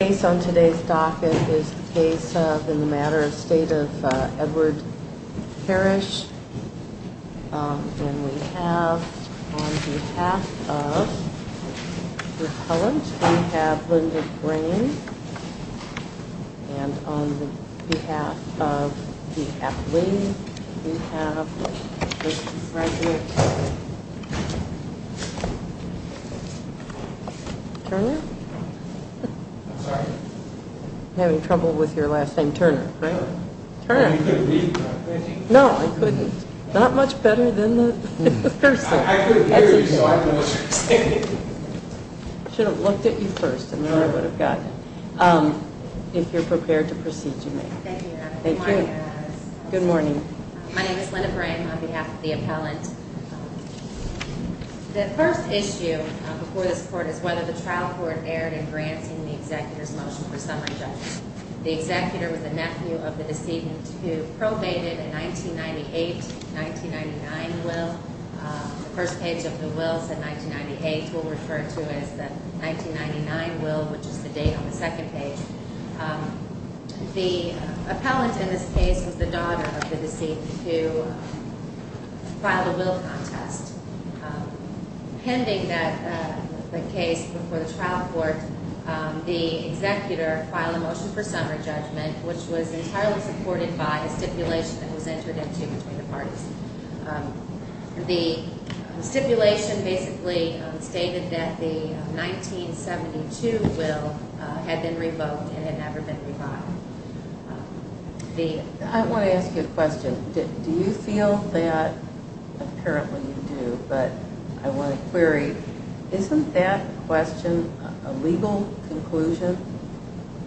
Based on today's docket is the case of in the matter of State of Edward Parrish. And we have on behalf of repellent. We have Linda Green and on behalf of the athlete. We have Turner having trouble with your last name, Turner. No, I couldn't. Not much better than the should have looked at you first and then I would have gotten if you're prepared to proceed to me. Good morning. My name is Linda Graham on behalf of the appellant. The first issue before this court is whether the trial court erred in granting the executor's motion for summary. The executor was a nephew of the decedent who probated in 1998 1999 will first page of the will said 1998 will refer to as the 1999 will, which is the date on the second page. The appellant in this case was the daughter of the deceit to filed a will contest pending that the case before the trial court. The executor filed a motion for summary judgment, which was entirely supported by a stipulation that was entered into between the parties. The stipulation basically stated that the 1972 will had been revoked and had never been reviled. The I want to ask you a question. Do you feel that apparently you do, but I want to query isn't that question a legal conclusion?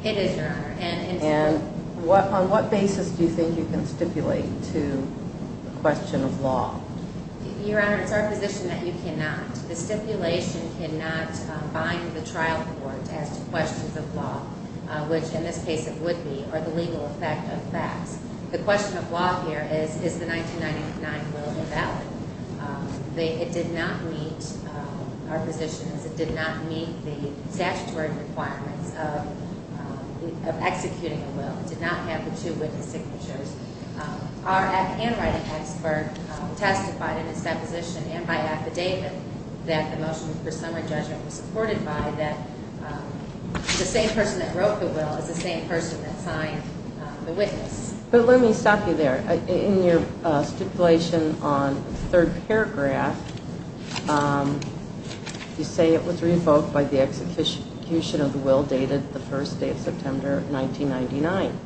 It is your honor and and what on what basis do you think you can stipulate to question of law? Your honor. It's our position that you cannot the stipulation cannot bind the trial court to ask questions of law, which in this case, it would not. Or the legal effect of facts. The question of law here is, is the 1999 will valid? They did not meet our positions. It did not meet the statutory requirements of executing a will. It did not have the two witness signatures are at handwriting expert testified in its deposition and by affidavit that the motion for summary judgment was supported by that. The same person that wrote the will is the same person that signed the witness. But let me stop you there in your stipulation on third paragraph. You say it was revoked by the execution of the will dated the first day of September 1999.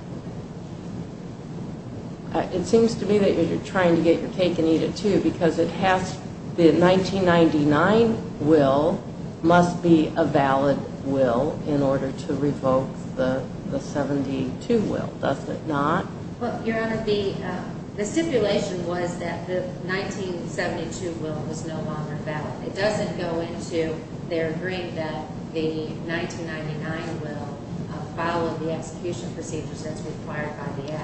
It seems to me that you're trying to get your cake and eat it too, because it has the 1999 will must be a valid will in order to revoke the 72 will. Does it not? Well, your honor, the stipulation was that the 1972 will was no longer valid. It doesn't go into their green that the 1999 will follow the execution procedure. That's required,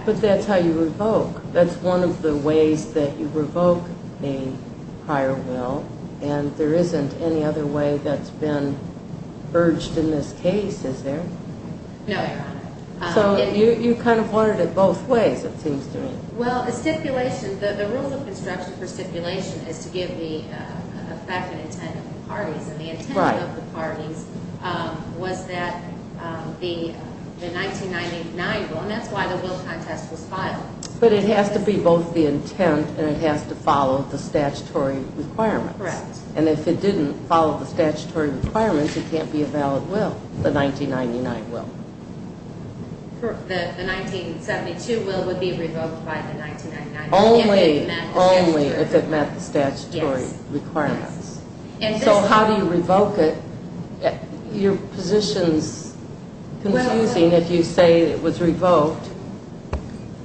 but that's how you revoke. That's one of the ways that you revoke a higher will, and there isn't any other way that's been urged in this case. Is there? No, so you kind of wanted it both ways. It seems to me. The stipulation, the rules of construction for stipulation is to give the effect and intent of the parties. And the intent of the parties was that the 1999 will, and that's why the will contest was filed. But it has to be both the intent and it has to follow the statutory requirements. Correct. And if it didn't follow the statutory requirements, it can't be a valid will, the 1999 will. The 1972 will would be revoked by the 1999 will. Only if it met the statutory requirements. So how do you revoke it? Your position's confusing. If you say it was revoked,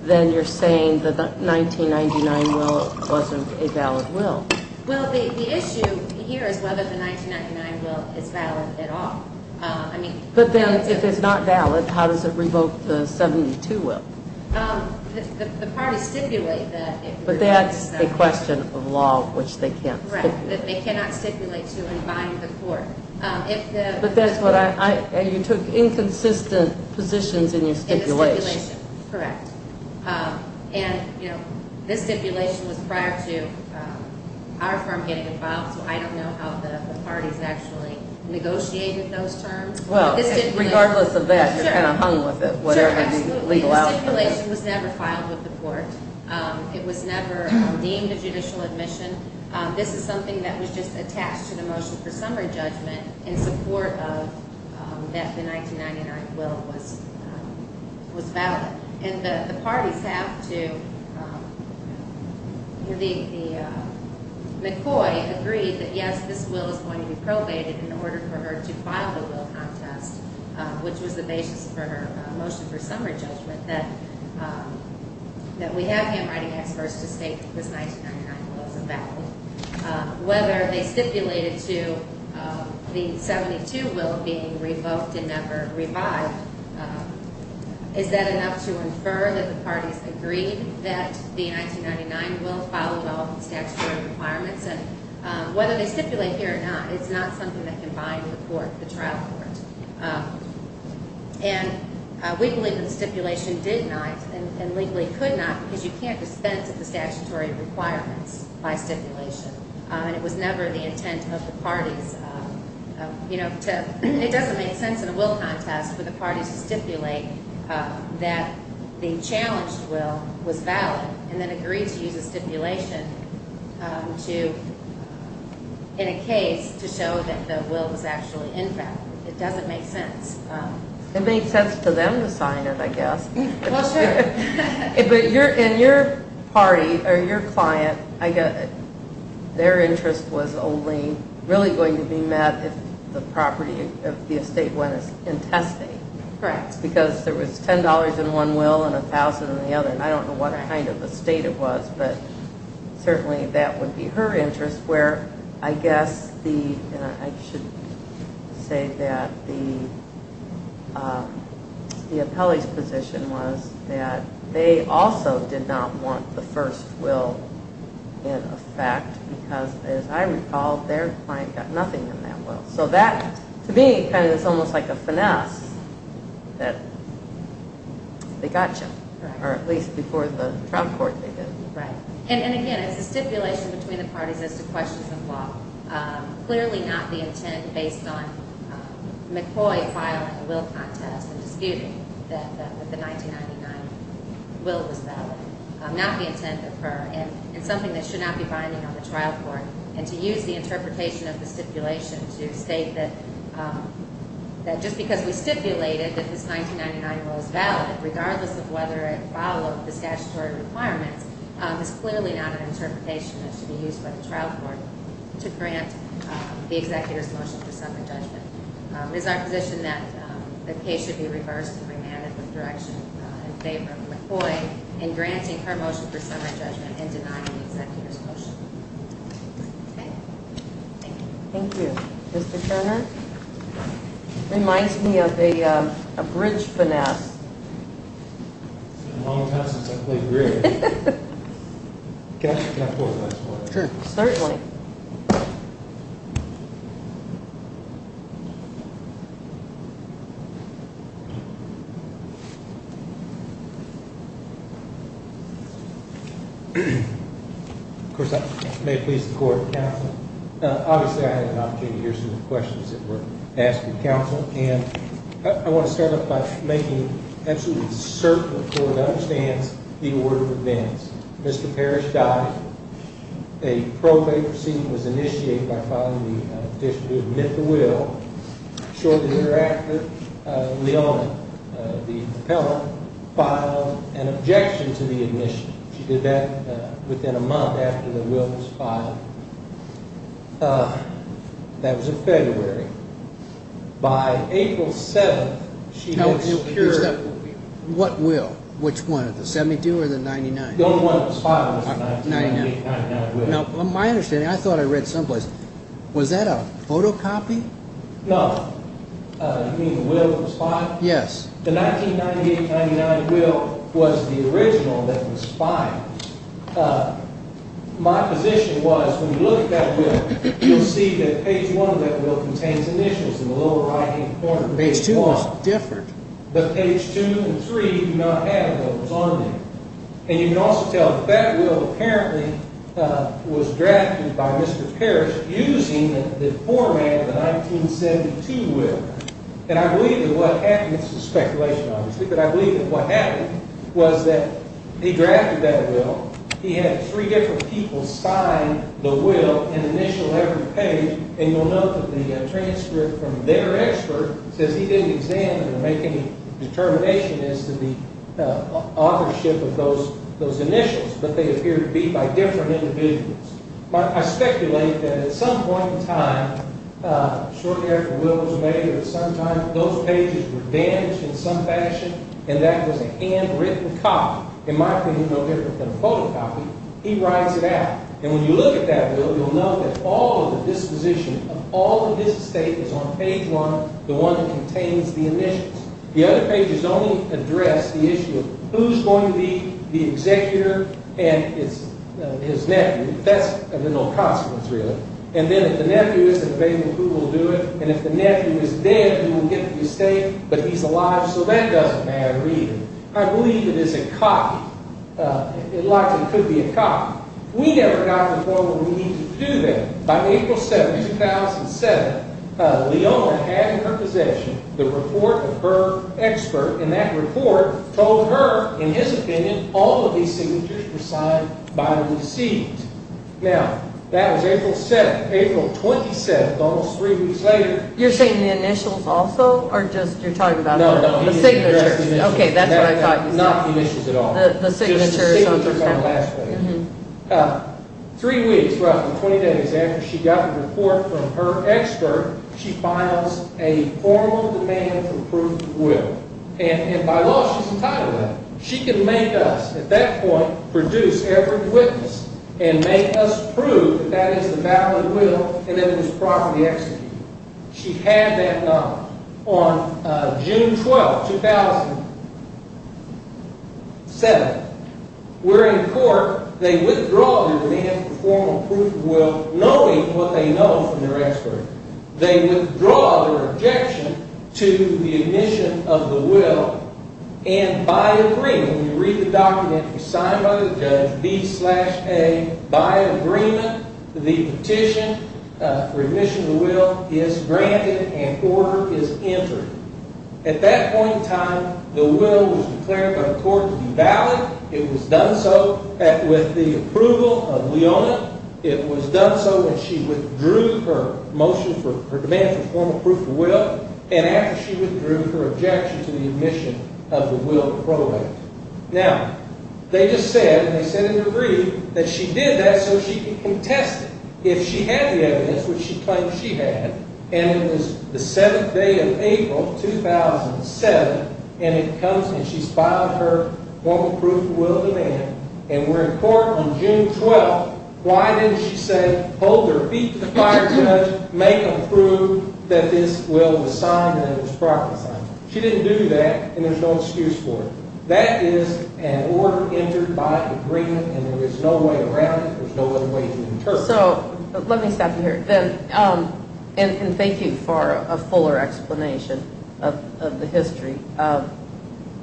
then you're saying that the 1999 will wasn't a valid will. Well, the issue here is whether the 1999 will is valid at all. But then, if it's not valid, how does it revoke the 1972 will? The parties stipulate that. But that's a question of law, which they can't stipulate. Correct, that they cannot stipulate to and bind the court. But that's what I, and you took inconsistent positions in your stipulation. In the stipulation, correct. And this stipulation was prior to our firm getting involved, so I don't know how the parties actually negotiated those terms. Well, regardless of that, you're kind of hung with it, whatever the legal outcome is. The stipulation was never filed with the court. It was never deemed a judicial admission. This is something that was just attached to the motion for summary judgment in support of that the 1999 will was valid. And the parties have to, the McCoy agreed that yes, this will is going to be probated in order for her to file the will contest, which was the basis for her motion for summary judgment, that we have handwriting experts to state that this 1999 will is a valid will. Whether they stipulated to the 72 will being revoked and never revived, is that enough to infer that the parties agreed that the 1999 will followed all the statutory requirements? And whether they stipulate here or not, it's not something that can bind the court, the trial court. And we believe that the stipulation did not, and legally could not, because you can't dispense of the statutory requirements by stipulation. And it was never the intent of the parties, you know, to, it doesn't make sense in a will contest for the parties to stipulate that the challenged will was valid and then agree to use a stipulation to, in a case, to show that the will was actually invalid. It doesn't make sense. It made sense to them to sign it, I guess. Well, sure. But in your party, or your client, their interest was only really going to be met if the property of the estate went in testing. Correct. Because there was $10 in one will and $1,000 in the other. And I don't know what kind of estate it was, but certainly that would be her interest, where I guess the, and I should say that the appellee's position was that they also did not want the first will in effect because, as I recall, their client got nothing in that will. So that, to me, kind of is almost like a finesse that they got you, or at least before the trial court they did. Right. And again, it's a stipulation between the parties as to questions of law. Clearly not the intent based on McCoy filing a will contest and disputing that the 1999 will was valid. Not the intent of her, and something that should not be binding on the trial court. And to use the interpretation of the stipulation to state that just because we stipulated that this 1999 will is valid, regardless of whether it followed the statutory requirements, is clearly not an interpretation that should be used by the trial court to grant the executor's motion for summary judgment. It is our position that the case should be reversed and remanded with direction in favor of McCoy in granting her motion for summary judgment and denying the executor's motion. Thank you. Thank you. Thank you, Mr. Turner. It reminds me of a bridge finesse. It's been a long time since I played bridge. Can I pull it up for you? Sure. Certainly. Of course, may it please the Court, Obviously, I had an opportunity to hear some of the questions that were asked of counsel. And I want to start off by making absolutely certain that the court understands the order of events. Mr. Parrish died. A probate proceeding was initiated by filing the petition to admit the will. Shortly thereafter, Leon, the appellant, filed an objection to the admission. She did that within a month after the will was filed. That was in February. By April 7th, she had secured What will? Which one? The 72 or the 99? The only one that was filed was the 1998-99 will. My understanding, I thought I read someplace, was that a photocopy? No. You mean the will that was filed? Yes. The 1998-99 will was the original that was filed. My position was, when you look at that will, you'll see that page 1 of that will contains initials in the lower right-hand corner. Page 2 was different. But page 2 and 3 do not have those on them. And you can also tell that that will apparently was drafted by Mr. Parrish using the format of the 1972 will. And I believe that what happened this is speculation obviously but I believe that what happened was that he drafted that will he had three different people sign the will and initial every page and you'll note that the transcript from their expert says he didn't examine or make any determination as to the authorship of those initials but they appear to be by different individuals. I speculate that at some point in time shortly after the will was made those pages were damaged in some fashion and that was a handwritten copy in my opinion no different than a photocopy he writes it out. And when you look at that will you'll note that all of the disposition of all of this estate is on page 1 the one that contains the initials. The other pages only address the issue of who's going to be the executor and his nephew but that's of no consequence really. And then if the nephew isn't available who will do it and if the nephew is dead who will get the estate but he's alive so that doesn't matter either. I believe it is a copy it likely could be a copy. We never got the formal need to do that. By April 7, 2007 Leona had in her possession the report of her expert and that report told her in his opinion all of these signatures were signed by the received. Now, that was April 7 April 27, almost 3 weeks later You're saying the initials also or just you're talking about the signature? No, no, he didn't address the initials. Ok, that's what I thought you said. Not the initials at all. The signature is on the last page. 3 weeks, roughly 20 days after she got the report from her expert she files a formal demand for proof of will and by law she's entitled to that. She can make us, at that point produce every witness and make us prove that that is the valid will and that it was properly executed. She had that knowledge. On June 12, 2007 we're in court they withdraw their demand for formal proof of will knowing what they know from their expert. They withdraw their objection to the admission of the will and by agreement you read the document it was signed by the judge B-A by agreement the petition for admission of the will is granted and order is entered. At that point in time the will was declared by the court to be valid it was done so with the approval of Leona it was done so and she withdrew her motion for her demand for formal proof of will and after she withdrew she withdrew her objection to the admission of the will pro act. Now, they just said in their brief that she did that so she could contest it if she had the evidence which she claimed she had and it was the 7th day of April 2007 and it comes and she's filed her formal proof of will demand and we're in court on June 12 why didn't she say hold their feet to the fire judge make them prove that this will was signed and it was prophesied she didn't do that and there's no excuse for it that is an order entered by agreement and there is no way around it there's no other way to do it. Let me stop you here and thank you for a fuller explanation of the history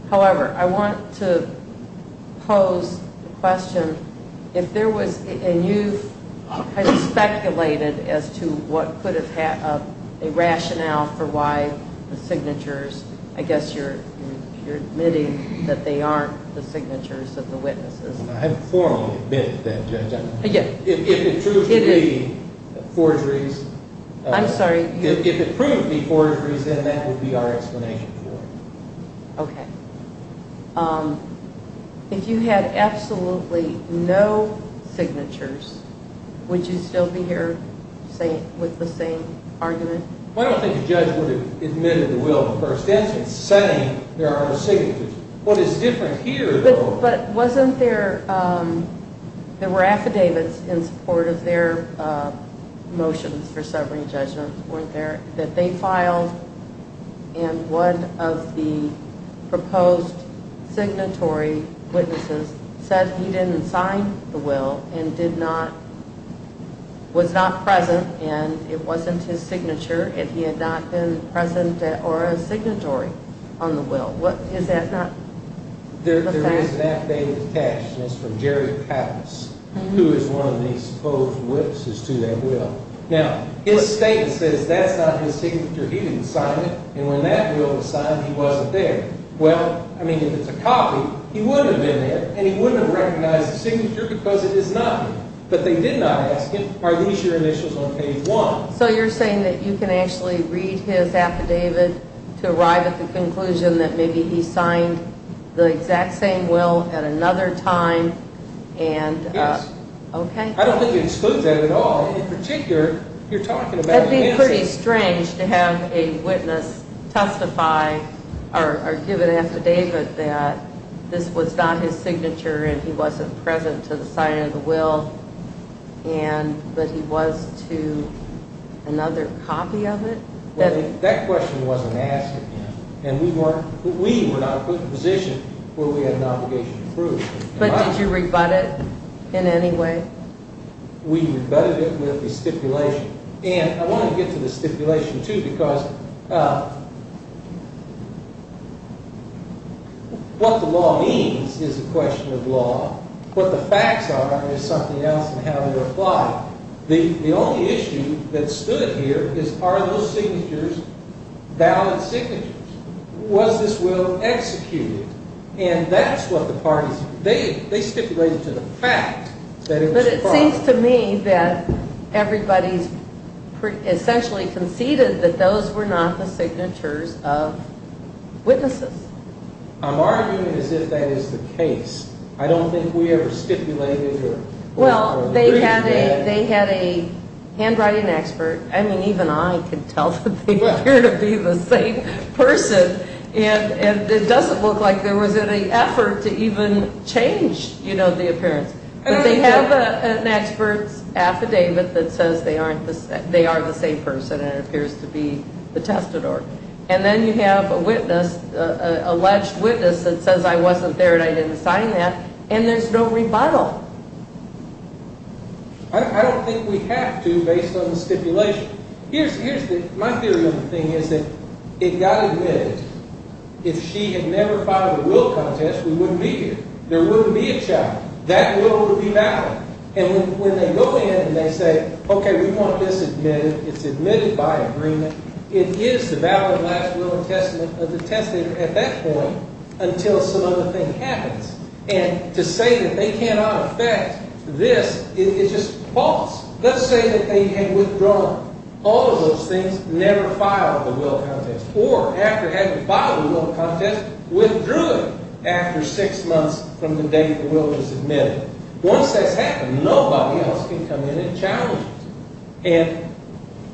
however I want to pose a question if there was and you've speculated as to what could have a rationale for why the signatures I guess you're admitting that they aren't the signatures of the witnesses I haven't formally admitted that judge if it proved to be forgeries I'm sorry if it proved to be forgeries then that would be our explanation for it ok if you had absolutely no signatures would you still be here with the same argument I don't think a judge would have admitted the will to the first instance saying there are no signatures what is different here though but wasn't there there were affidavits in support of their motions for summary judgment weren't there that they filed and one of the proposed signatory witnesses said he didn't sign the will and did not was not present and it wasn't his signature and he had not been present or a signatory on the will there is an affidavit attached and it's from Jerry Pappas who is one of these supposed witnesses to that will now his statement says that's not his signature he didn't sign it and when that will was signed he wasn't there well I mean if it's a copy he wouldn't have been there and he wouldn't have recognized the signature because it is not but they did not ask him are these your initials on page 1 so you're saying that you can actually read his affidavit to arrive at the conclusion that maybe he signed the exact same will at another time and yes I don't think you exclude that at all in particular you're talking about it would be pretty strange to have a witness testify or give an affidavit that this was not his signature and he wasn't present to the signing of the will but he was to another copy of it that question wasn't asked again we were not put in a position where we had an obligation to prove but did you rebut it in any way we rebutted it with a stipulation and I want to get to the stipulation too because what the law means is a question of law what the facts are is something else in how they're applied the only issue that stood here are those signatures valid signatures was this will executed and that's what the parties they stipulated to the fact that it was false but it seems to me that everybody essentially conceded that those were not the signatures of witnesses I'm arguing as if that is the case I don't think we ever stipulated well they had a handwriting expert I mean even I can tell that they appear to be the same person and it doesn't look like there was any effort to even change the appearance but they have an expert's they are the same person and it appears to be the testadort and then you have a witness an alleged witness that says I wasn't there and I didn't sign that and there's no rebuttal I don't think we have to based on the stipulation here's my theory of the thing is that it got admitted if she had never filed a will contest we wouldn't be here there wouldn't be a child that will would be valid and when they go in and they say okay we want this admitted it's admitted by agreement it is the valid last will and testament of the testadort at that point until some other thing happens and to say that they cannot affect this is just false let's say that they had withdrawn all of those things never filed the will contest or after having filed the will contest withdrew it after six months from the date the will was admitted once that's happened nobody else can come in and challenge it and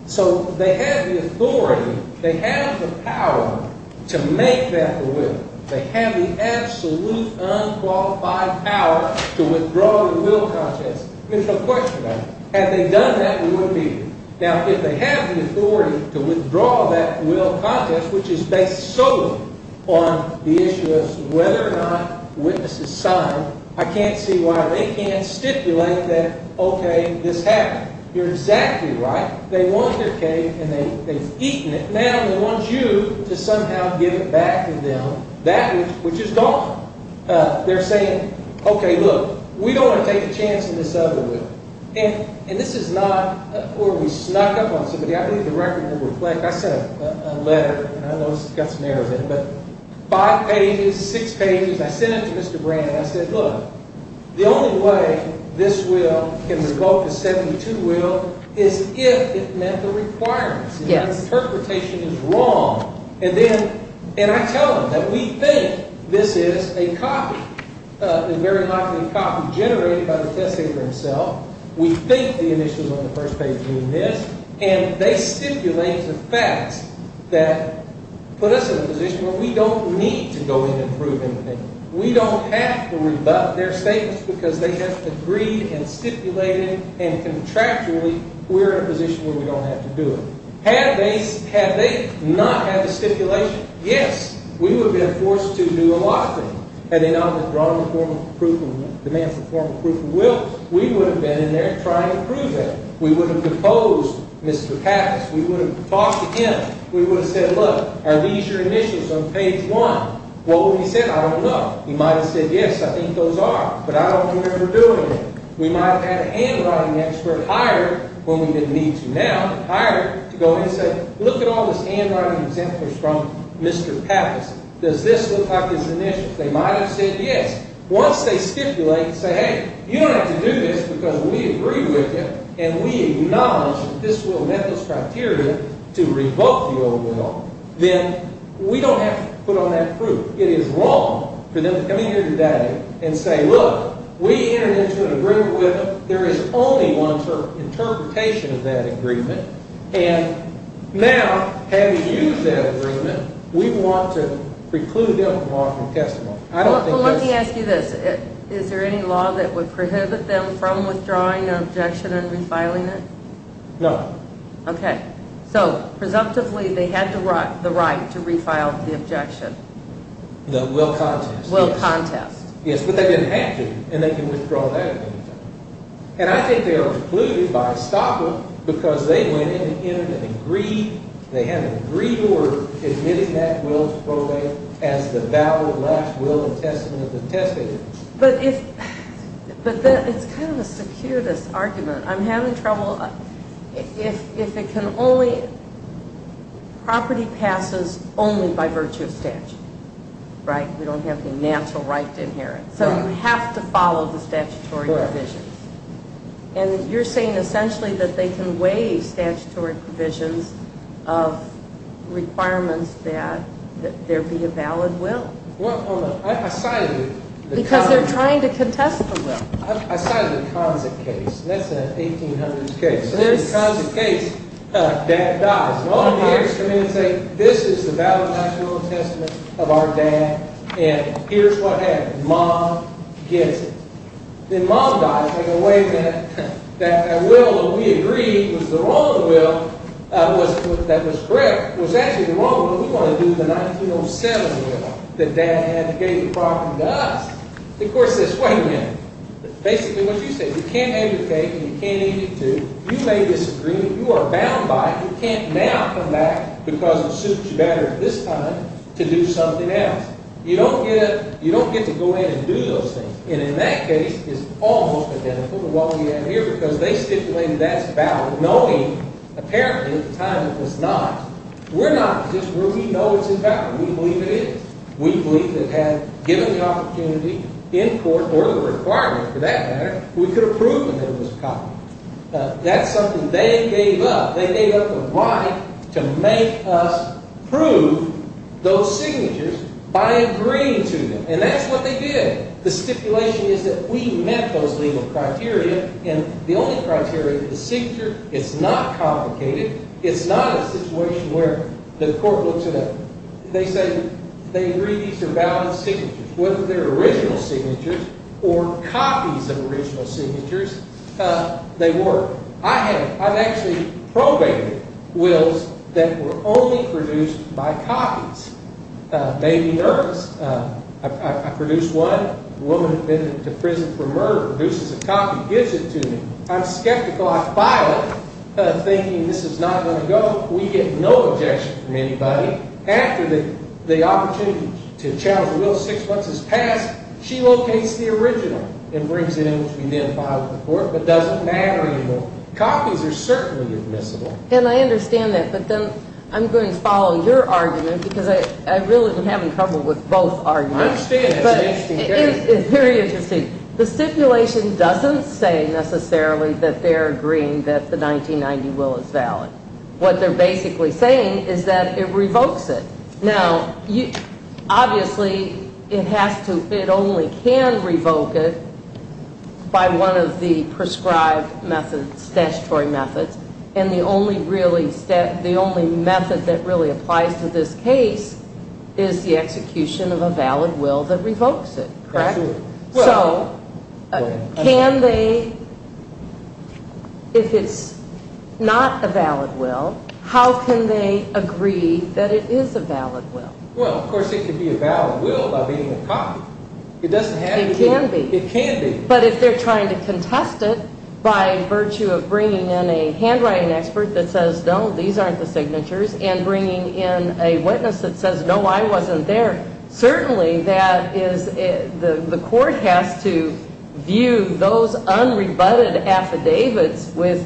so they have the authority they have the power to make that the will they have the absolute unqualified power to withdraw the will contest there's no question about it had they done that we wouldn't be here now if they have the authority to withdraw that will contest which is based solely on the issue of whether or not the witnesses signed I can't see why they can't stipulate that okay this happened you're exactly right they won their case and they've eaten it now they want you to somehow give it back to them that which is gone they're saying okay look we don't want to take a chance on this other will and this is not where we snuck up on somebody I believe the record will reflect I sent a letter I know it's got some errors in it five pages, six pages I sent it to Mr. Brand and I said look the only way this will can revolt the 72 will is if it met the requirements and the interpretation is wrong and then and I tell them that we think this is a copy and very likely a copy generated by the test taker himself we think the initials on the first page mean this and they stipulate a series of facts that put us in a position where we don't need to go in and prove anything we don't have to rebut their statements because they have agreed and stipulated and contractually we're in a position where we don't have to do it had they not had the stipulation yes, we would have been forced to do a lot of things we would have been in there trying to prove it we would have proposed Mr. Pappas we would have talked to him we would have said look are these your initials on page one what would he have said? I don't know he might have said yes, I think those are but I don't remember doing it we might have had a handwriting expert hire when we didn't need to now to go in and say look at all this handwriting from Mr. Pappas does this look like his initials they might have said yes once they stipulate and say hey you don't have to do this because we agree with you and we acknowledge this will met those criteria to revoke the old law then we don't have to put on that proof it is wrong for them to come in here today and say look we entered into an agreement with them there is only one interpretation of that agreement and now having used that agreement we want to preclude them from offering testimony well let me ask you this is there any law that would prohibit them from withdrawing an objection and refiling it? No ok, so presumptively they had the right to refile the objection the will contest yes, but they didn't have to and they can withdraw that and I think they were precluded by Stockwell because they went in and agreed they had an agreed order admitting that will as the valid the last will of the testator but if it's kind of a circuitous argument I'm having trouble if it can only property passes only by virtue of statute right, we don't have any natural right to inherit, so you have to follow the statutory provisions and you're saying essentially that they can waive statutory provisions of requirements that there be a valid will I cited because they're trying to contest the will I cited the Conza case that's an 1800s case Conza case, dad dies all the heirs come in and say this is the valid national testament of our dad and here's what happened, mom gets it then mom dies in a way that that will that we agreed was the wrong will that was correct was actually the wrong will, we want to do the 1907 will that dad gave the property to us the court says wait a minute basically what you say, you can't have your cake and you can't eat it too, you may disagree you are bound by it, you can't now come back because it suits you better at this time to do something else you don't get to go in and do those things and in that case it's almost identical to what we have here because they stipulated that's valid knowing apparently at the time it was not we're not just where we know it's invalid we believe it is we believe it had given the opportunity in court, or the requirement for that matter, we could have proved that it was copy, that's something they gave up, they gave up the right to make us prove those signatures by agreeing to them and that's what they did the stipulation is that we met those legal criteria and the only criteria the signature, it's not complicated it's not a situation where the court looks it up they say, they agree these are valid signatures, whether they are original signatures or copies of original signatures they were, I have actually probated wills that were only produced by copies may be nervous I produced one, a woman had been to prison for murder, produces a copy gives it to me, I'm skeptical I file it, thinking this is not going to go, we get no objection from anybody, after the opportunity to challenge the will, 6 months has passed, she locates the original, and brings it in which we then file to the court, but doesn't matter anymore, copies are certainly admissible, and I understand that but then, I'm going to follow your argument, because I really am having trouble with both arguments, I understand it's very interesting the stipulation doesn't say necessarily that they are agreeing that the 1990 will is valid what they are basically saying is that it revokes it now, obviously it has to, it only can revoke it by one of the prescribed methods, statutory methods method that really applies to this case, is the execution of a valid will that revokes it, correct? can they if it's not a valid will how can they agree that it is a valid will well, of course it can be a valid will by being a copy, it doesn't have to be it can be, but if they are trying to contest it, by virtue of bringing in a handwriting expert that says no, these aren't the signatures and bringing in a witness that says no, I wasn't there certainly that is the court has to view those unrebutted affidavits with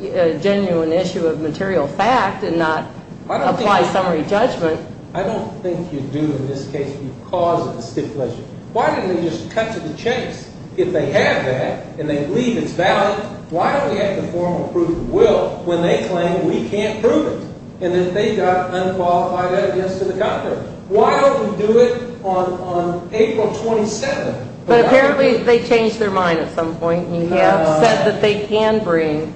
a genuine issue of material fact and not apply summary judgment I don't think you do in this case, you cause a stipulation, why don't they just cut to the chase if they have that and they believe it's valid why do we have to form a proof of will when they claim we can't prove it and that they've got unqualified evidence why don't we do it on April 27th but apparently they changed their mind at some point and have said that they can bring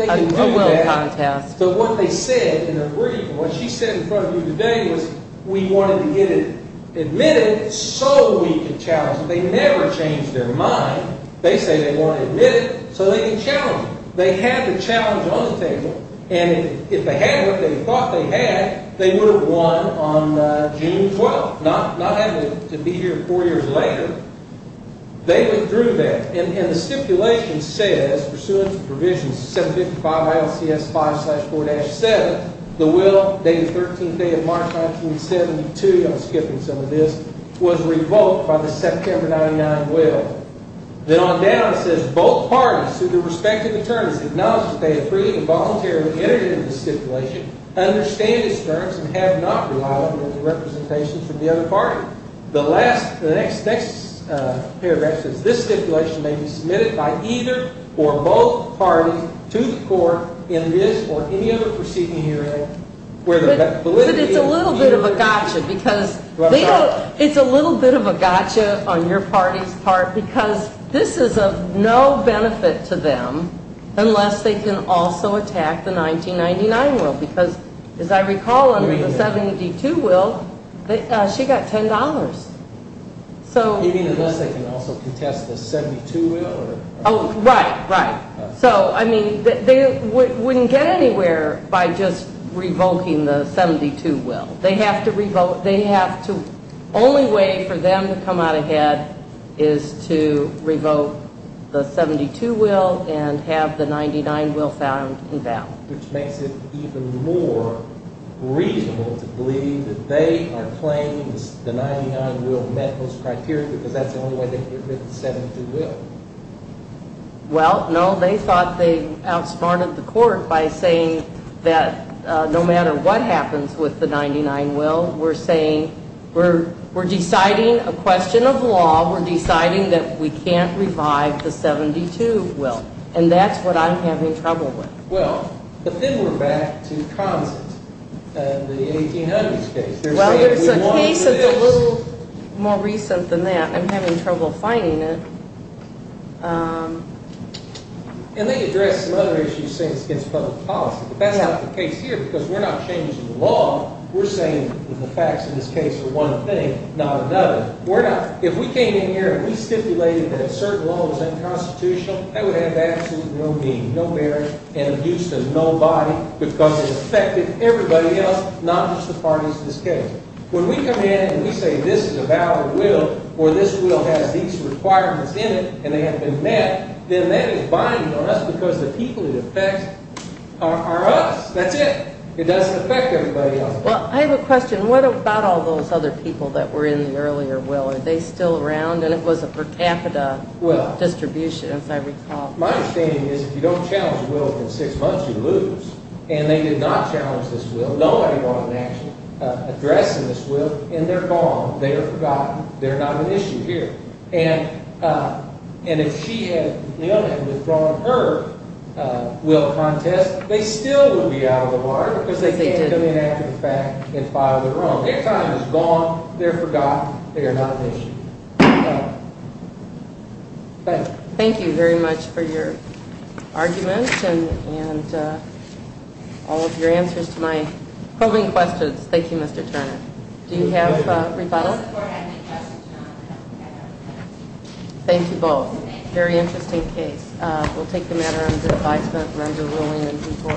a will contest but what they said in their brief what she said in front of you today was we wanted to get it admitted so we could challenge it, they never changed their mind, they say they want to admit it so they can challenge it they had the challenge on the table and if they had what they thought they had, they would have won on June 12th not having to be here 4 years later they withdrew that and the stipulation says pursuant to provision 755 ILCS 5-4-7 the will dated 13th day of March 1972 I'm skipping some of this was revoked by the September 99 will then on down it says both parties to their respective attorneys acknowledge that they have freely and voluntarily entered into the stipulation understand its terms and have not relied on any representations from the other party the next paragraph says this stipulation may be submitted by either or both parties to the court in this or any other proceeding hearing where the validity but it's a little bit of a gotcha it's a little bit of a gotcha on your party's part because this is of no benefit to them unless they can also attack the 1999 will because as I recall the 72 will she got $10 you mean unless they can also contest the 72 will right they wouldn't get anywhere by just revoking the 72 will they have to only way for them to come out ahead is to revoke the 72 will and have the 99 will found which makes it even more reasonable to believe that they are claiming the 99 will met those criteria because that's the only way they can get rid of the 72 will well no they thought they outsmarted the court by saying that no matter what happens with the 99 will we're saying we're deciding a question of law while we're deciding that we can't revive the 72 will and that's what I'm having trouble with well but then we're back to Consent and the 1800s case well there's a case that's a little more recent than that I'm having trouble finding it and they address some other issues saying it's against public policy but that's not the case here because we're not changing the law we're saying that the facts in this case are one thing not another if we came in here and we stipulated that a certain law was unconstitutional that would have absolutely no meaning no merit and abuse to nobody because it affected everybody else not just the parties in this case when we come in and we say this is about the will or this will has these requirements in it and they haven't been met then that is binding on us because the people it affects are us that's it it doesn't affect everybody else I have a question what about all those other people that were in the earlier will are they still around and it was a per capita distribution as I recall my understanding is if you don't challenge the will within six months you lose and they did not challenge this will nobody wanted to actually address in this will and they're gone they're forgotten they're not an issue here and if she had withdrawn her will contest they still would be out of the water because they didn't come in after the fact and filed their own their time is gone they're forgotten they're not an issue thank you very much for your argument and all of your answers to my polling questions thank you Mr. Turner do you have a rebuttal thank you both very interesting case we'll take the matter under advisement thank you